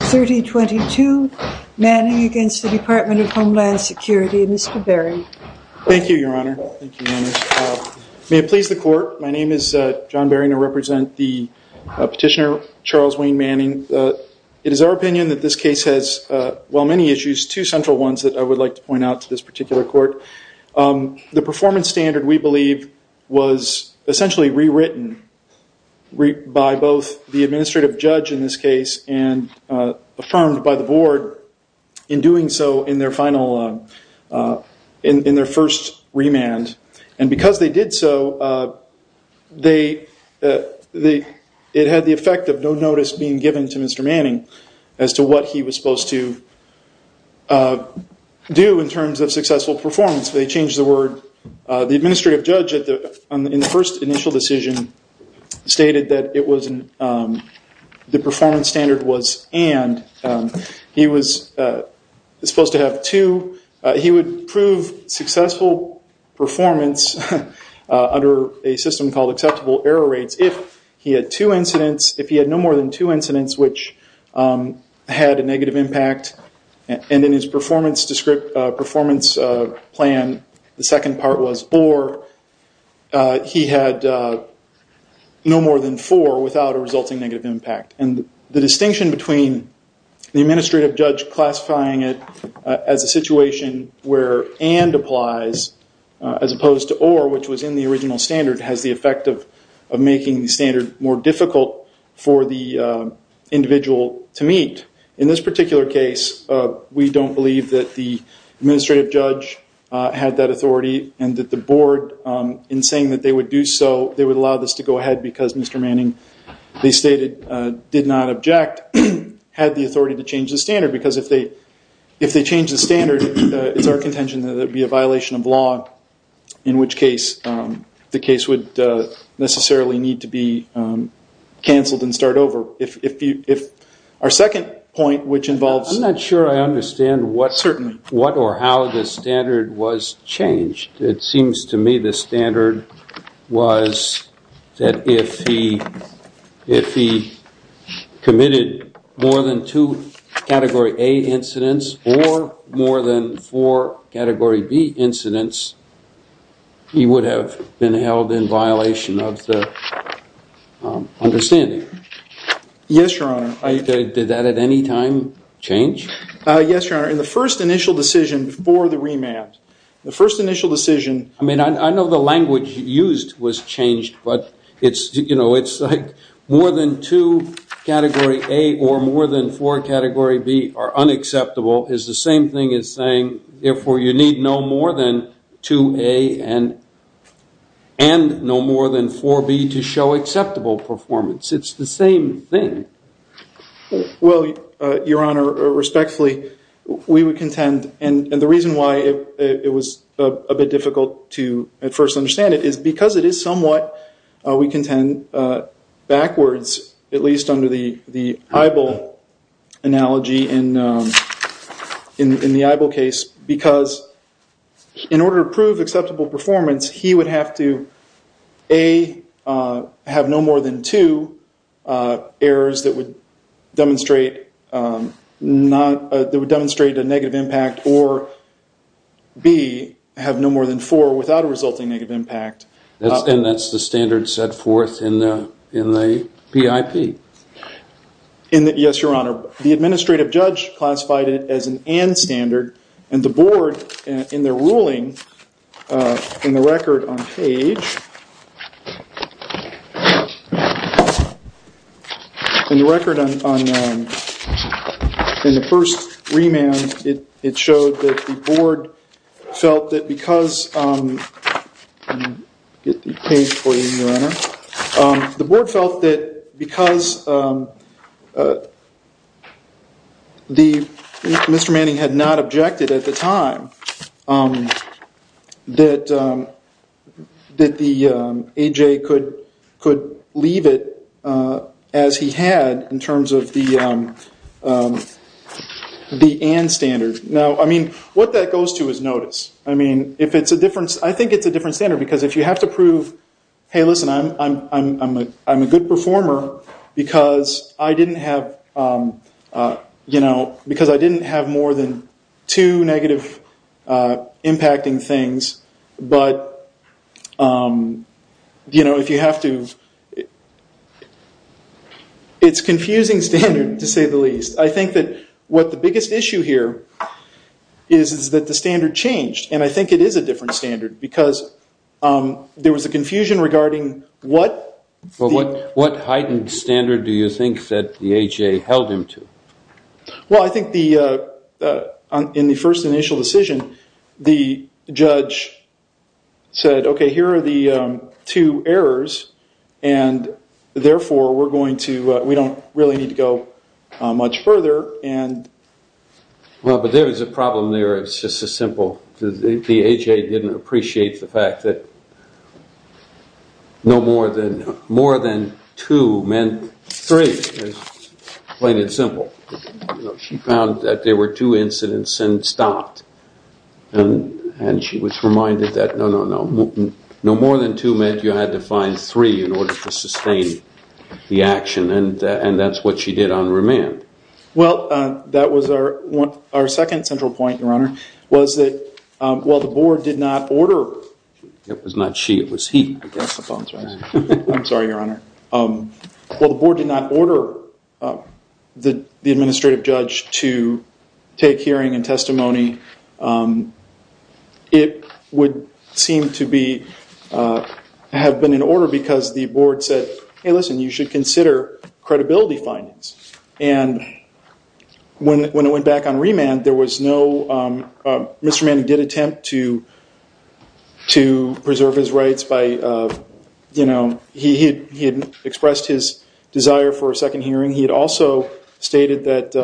3022, Manning against the Department of Homeland Security. Mr. Barring. Thank you, your honor. May it please the court, my name is John Barring. I represent the petitioner Charles Wayne Manning. It is our opinion that this case has, while many issues, two central ones that I would like to point out to this particular court. The performance standard, we believe, was essentially re-written by both the administrative judge in this case and affirmed by the board in doing so in their first remand. Because they did so, it had the effect of no notice being given to Mr. Manning as to what he was supposed to do in terms of successful performance. They changed the word. The administrative judge in the first initial decision stated that the performance standard was and. He was supposed to have two. He would prove successful performance under a system called acceptable error rates if he had two incidents, if he had no more than two incidents which had a negative impact and in his performance plan, the second part was or. He had no more than four without a resulting negative impact. The distinction between the administrative judge classifying it as a situation where and applies as opposed to or, which was in the original standard, has the effect of making the standard more difficult for the individual to meet. In this particular case, we don't believe that the administrative judge had that authority and that the board, in saying that they would do so, they would allow this to go ahead because Mr. Manning, they stated, did not object, had the authority to change the standard because if they change the standard, it's our contention that it would be a violation of law in which case the case would necessarily need to be cancelled and start over. Our second point, which involves... I'm not sure I understand what or how the standard was changed. It seems to me the standard was that if he committed more than two category A incidents or more than four category B incidents, he would have been held in violation of the understanding. Yes, Your Honor. Did that at any time change? Yes, Your Honor. In the first initial decision before the remand, the first initial decision... I mean, I know the language used was changed, but it's, you know, it's like more than two category A or more than four category B are unacceptable is the same thing as saying, therefore, you need no more than two A and no more than four B to show acceptable performance. It's the same thing. Well, Your Honor, respectfully, we would contend, and the reason why it was a bit difficult to at first understand it is because it is somewhat, we contend, backwards, at least under the EIBL analogy in the EIBL case, because in order to prove acceptable performance, he would have to A, have no more than two errors that would demonstrate a negative impact, or B, have no more than four without a resulting negative impact. And that's the standard set forth in the PIP. Yes, Your Honor. The administrative judge classified it as an and standard, and the board, in their ruling, in the record on page... I'll get the page for you, Your Honor. The board felt that because Mr. Manning had not objected at the time that the AJ could leave it as he had in terms of the and standard. Now, I mean, what that goes to is notice. I mean, if it's a difference, I think it's a different standard, because if you have to prove, hey, listen, I'm a good performer because I didn't have, you know, because I didn't have more than two negative impacting things, but, you know, if you have to... It's a confusing standard, to say the least. I think that what the biggest issue here is that the standard changed, and I think it is a different standard because there was a confusion regarding what... What heightened standard do you think that the AJ held him to? Well, I think in the first initial decision, the judge said, okay, here are the two errors, and therefore we're going to... We don't really need to go much further, and... Well, but there is a problem there. It's just as simple. The AJ didn't appreciate the fact that no more than two meant three, plain and simple. She found that there were two incidents and stopped, and she was reminded that no, no, no. No more than two meant you had to find three in order to sustain the action, and that's what she did on remand. Well, that was our second central point, Your Honor, was that while the board did not order... It was not she, it was he. I guess the phone's ringing. I'm sorry, Your Honor. While the board did not order the administrative judge to take hearing and testimony, it would seem to be... have been in order because the board said, hey, listen, you should consider credibility findings, and when it went back on remand, there was no... Mr. Manning did attempt to preserve his rights by, you know... He had expressed his desire for a second hearing. He had also stated that,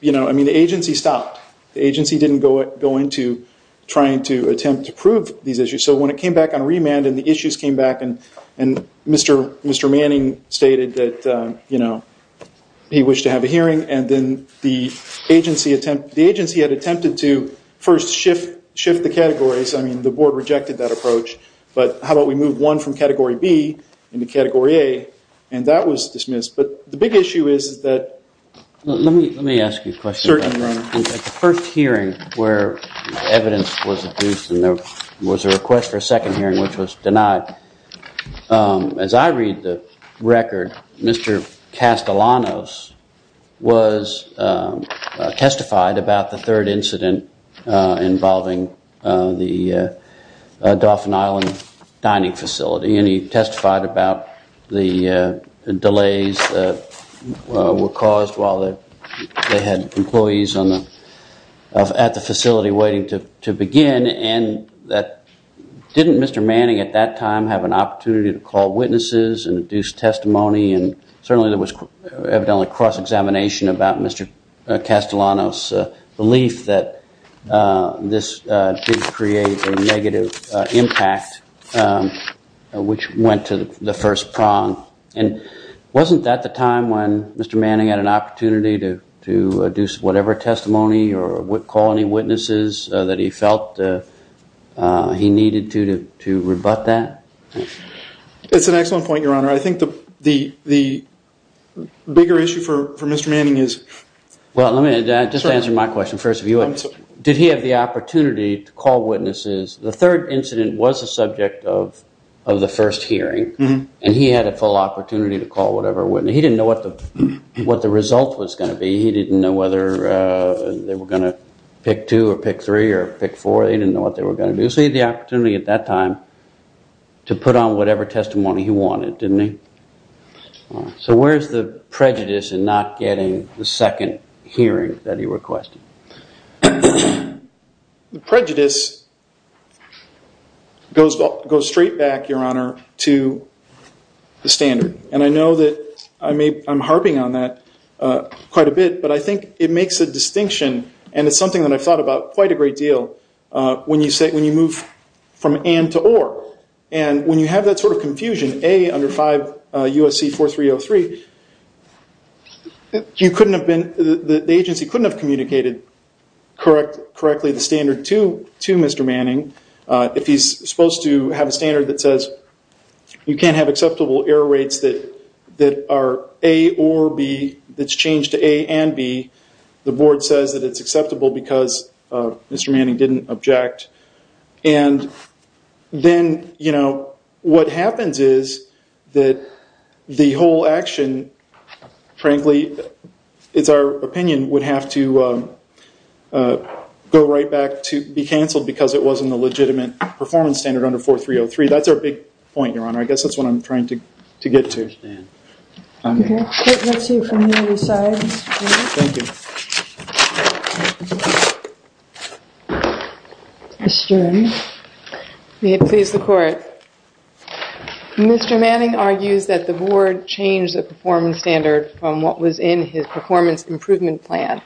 you know, I mean, the agency stopped. The agency didn't go into trying to attempt to prove these issues. So when it came back on remand and the issues came back, and Mr. Manning stated that, you know, he wished to have a hearing, and then the agency had attempted to first shift the categories. I mean, the board rejected that approach. But how about we move one from Category B into Category A? And that was dismissed. But the big issue is that... Let me ask you a question. Certainly, Your Honor. At the first hearing where evidence was produced and there was a request for a second hearing which was denied, as I read the record, Mr. Castellanos was testified about the third incident involving the Dauphin Island dining facility. And he testified about the delays that were caused while they had employees at the facility waiting to begin. And didn't Mr. Manning at that time have an opportunity to call witnesses and induce testimony? And certainly there was evidently cross-examination about Mr. Castellanos' belief that this did create a negative impact, which went to the first prong. And wasn't that the time when Mr. Manning had an opportunity to do whatever testimony or call any witnesses that he felt he needed to rebut that? That's an excellent point, Your Honor. I think the bigger issue for Mr. Manning is... Well, let me just answer my question first. Did he have the opportunity to call witnesses? The third incident was the subject of the first hearing and he had a full opportunity to call whatever witness. He didn't know what the result was going to be. He didn't know whether they were going to pick two or pick three or pick four. He didn't know what they were going to do. So he had the opportunity at that time to put on whatever testimony he wanted, didn't he? So where's the prejudice in not getting the second hearing that he requested? The prejudice goes straight back, Your Honor, to the standard. And I know that I'm harping on that quite a bit, but I think it makes a distinction and it's something that I've thought about quite a great deal when you move from and to or. And when you have that sort of confusion, A, under 5 U.S.C. 4303, the agency couldn't have communicated correctly the standard to Mr. Manning. If he's supposed to have a standard that says you can't have acceptable error rates that are A or B, that's changed to A and B, the board says that it's acceptable because Mr. Manning didn't object. And then what happens is that the whole action, frankly, it's our opinion, would have to go right back to be cancelled because it wasn't a legitimate performance standard under 4303. That's our big point, Your Honor. I guess that's what I'm trying to get to. Okay. Let's hear from the other side. Thank you. Ms. Stern. May it please the Court. Mr. Manning argues that the board changed the performance standard from what was in his performance improvement plan.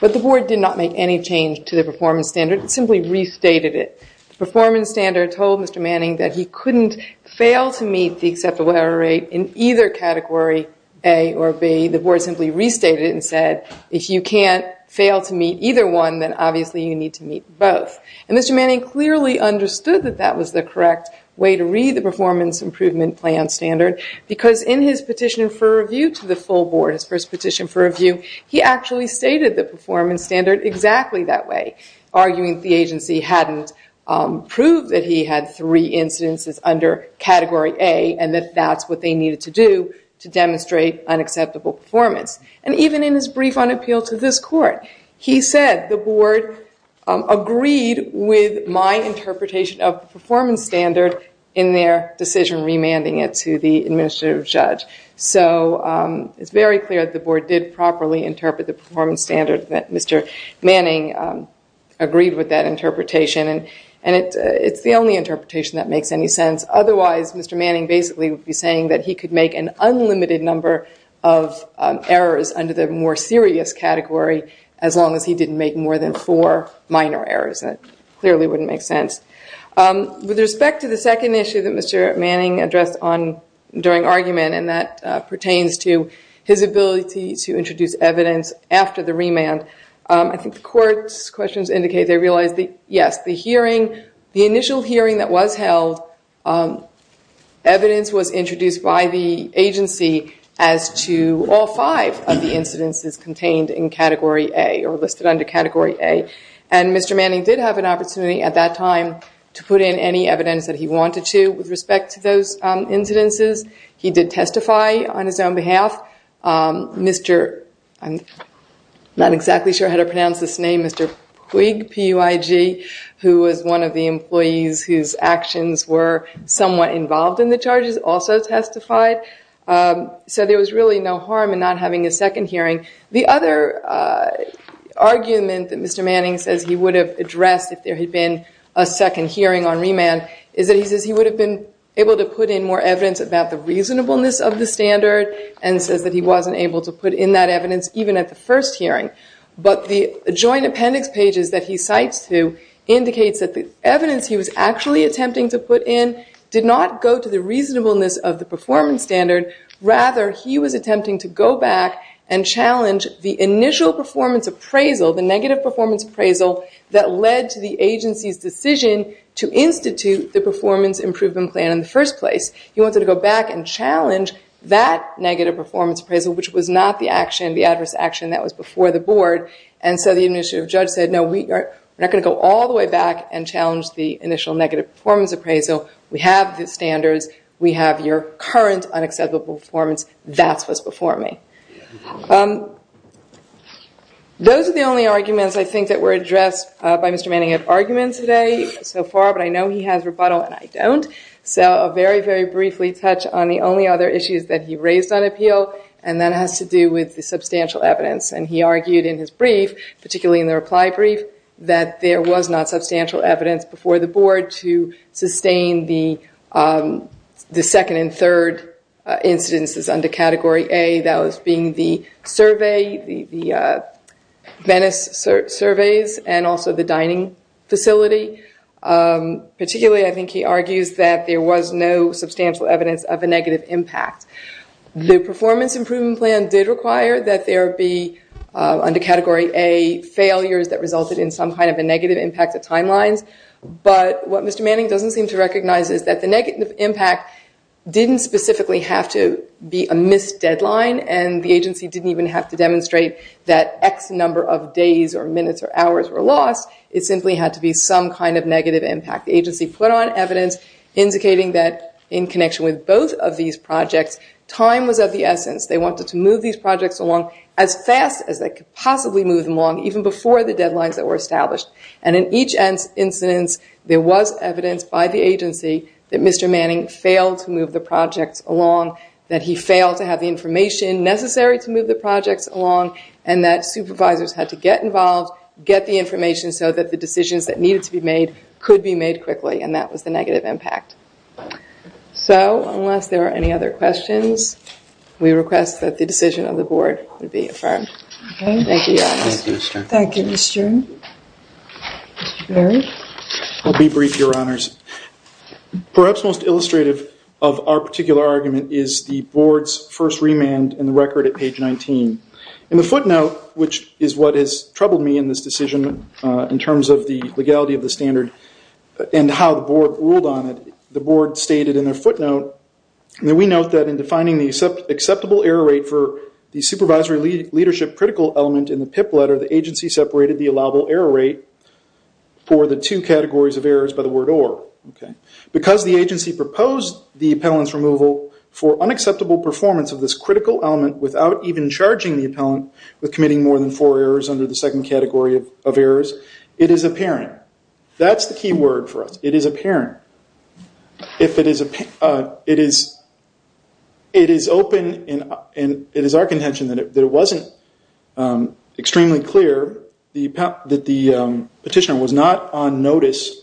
But the board did not make any change to the performance standard. It simply restated it. The performance standard told Mr. Manning that he couldn't fail to meet the acceptable error rate in either category, A or B. The board simply restated it and said, if you can't fail to meet either one, then obviously you need to meet both. And Mr. Manning clearly understood that that was the correct way to read the performance improvement plan standard because in his petition for review to the full board, his first petition for review, he actually stated the performance standard exactly that way, arguing that the agency hadn't proved that he had three incidences under category A and that that's what they needed to do to demonstrate unacceptable performance. And even in his brief on appeal to this Court, he said the board agreed with my interpretation of the performance standard in their decision remanding it to the administrative judge. So it's very clear that the board did properly interpret the performance standard that Mr. Manning agreed with that interpretation. And it's the only interpretation that makes any sense. Otherwise, Mr. Manning basically would be saying that he could make an unlimited number of errors under the more serious category as long as he didn't make more than four minor errors. That clearly wouldn't make sense. With respect to the second issue that Mr. Manning addressed during argument, and that pertains to his ability to introduce evidence after the remand, I think the Court's questions indicate they realize that, yes, the initial hearing that was held, evidence was introduced by the agency as to all five of the incidences contained in category A or listed under category A. And Mr. Manning did have an opportunity at that time to put in any evidence that he wanted to with respect to those incidences. He did testify on his own behalf. I'm not exactly sure how to pronounce this name, Mr. Puig, P-U-I-G, who was one of the employees whose actions were somewhat involved in the charges, also testified. So there was really no harm in not having a second hearing. The other argument that Mr. Manning says he would have addressed if there had been a second hearing on remand is that he says he would have been able to put in more evidence about the reasonableness of the standard and says that he wasn't able to put in that evidence even at the first hearing. But the joint appendix pages that he cites to indicates that the evidence he was actually attempting to put in did not go to the reasonableness of the performance standard. Rather, he was attempting to go back and challenge the initial performance appraisal, the negative performance appraisal that led to the agency's decision to institute the performance improvement plan in the first place. He wanted to go back and challenge that negative performance appraisal, which was not the adverse action that was before the board. And so the initiative judge said, no, we are not going to go all the way back and challenge the initial negative performance appraisal. We have the standards, we have your current unacceptable performance. That's what's before me. Those are the only arguments I think that were addressed by Mr. Manning of arguments today so far, but I know he has rebuttal and I don't. So I'll very, very briefly touch on the only other issues that he raised on appeal, and that has to do with the substantial evidence. And he argued in his brief, particularly in the reply brief, that there was not substantial evidence before the board to sustain the second and third incidences under Category A. That was being the survey, the Venice surveys, and also the dining facility. Particularly, I think he argues that there was no substantial evidence of a negative impact. The performance improvement plan did require that there be, under Category A, failures that resulted in some kind of a negative impact of timelines. But what Mr. Manning doesn't seem to recognize is that the negative impact didn't specifically have to be a missed deadline and the agency didn't even have to demonstrate that X number of days or minutes or hours were lost. It simply had to be some kind of negative impact. The agency put on evidence indicating that, in connection with both of these projects, time was of the essence. They wanted to move these projects along as fast as they could possibly move them along, even before the deadlines that were established. And in each incident, there was evidence by the agency that Mr. Manning failed to move the projects along, that he failed to have the information necessary to move the projects along, and that supervisors had to get involved, get the information so that the decisions that needed to be made could be made quickly, and that was the negative impact. So, unless there are any other questions, we request that the decision of the Board be affirmed. Thank you, Your Honor. Thank you, Ms. Stern. Mr. Berry? I'll be brief, Your Honors. Perhaps most illustrative of our particular argument is the Board's first remand in the record at page 19. In the footnote, which is what has troubled me in this decision in terms of the legality of the standard and how the Board ruled on it, the Board stated in their footnote that we note that, in defining the acceptable error rate for the supervisory leadership critical element in the PIP letter, the agency separated the allowable error rate for the two categories of errors by the word or. Because the agency proposed the appellant's removal for unacceptable performance of this critical element without even charging the appellant with committing more than four errors under the second category of errors, it is apparent. That's the key word for us. It is apparent. It is open and it is our contention that it wasn't extremely clear that the petitioner was not on notice,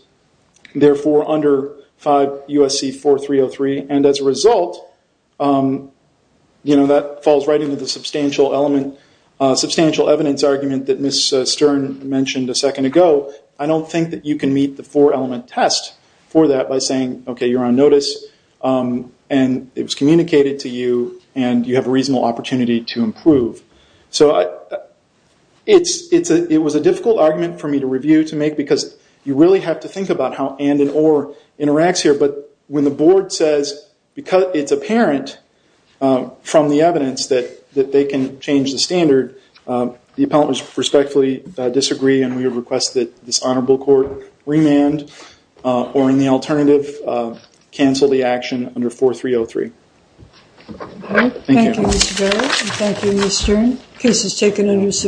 therefore under 5 U.S.C. 4303. As a result, that falls right into the substantial evidence argument that Ms. Stern mentioned a second ago. I don't think that you can meet the four element test for that by saying, okay, you're on notice, and it was communicated to you, and you have a reasonable opportunity to improve. So it was a difficult argument for me to review, to make, because you really have to think about how and and or interacts here. But when the board says, because it's apparent from the evidence that they can change the standard, the appellants respectfully disagree, and we request that this honorable court remand, or in the alternative, cancel the action under 4303. Thank you. Thank you, Mr. Berry. Thank you, Ms. Stern. The case is taken under subpoena.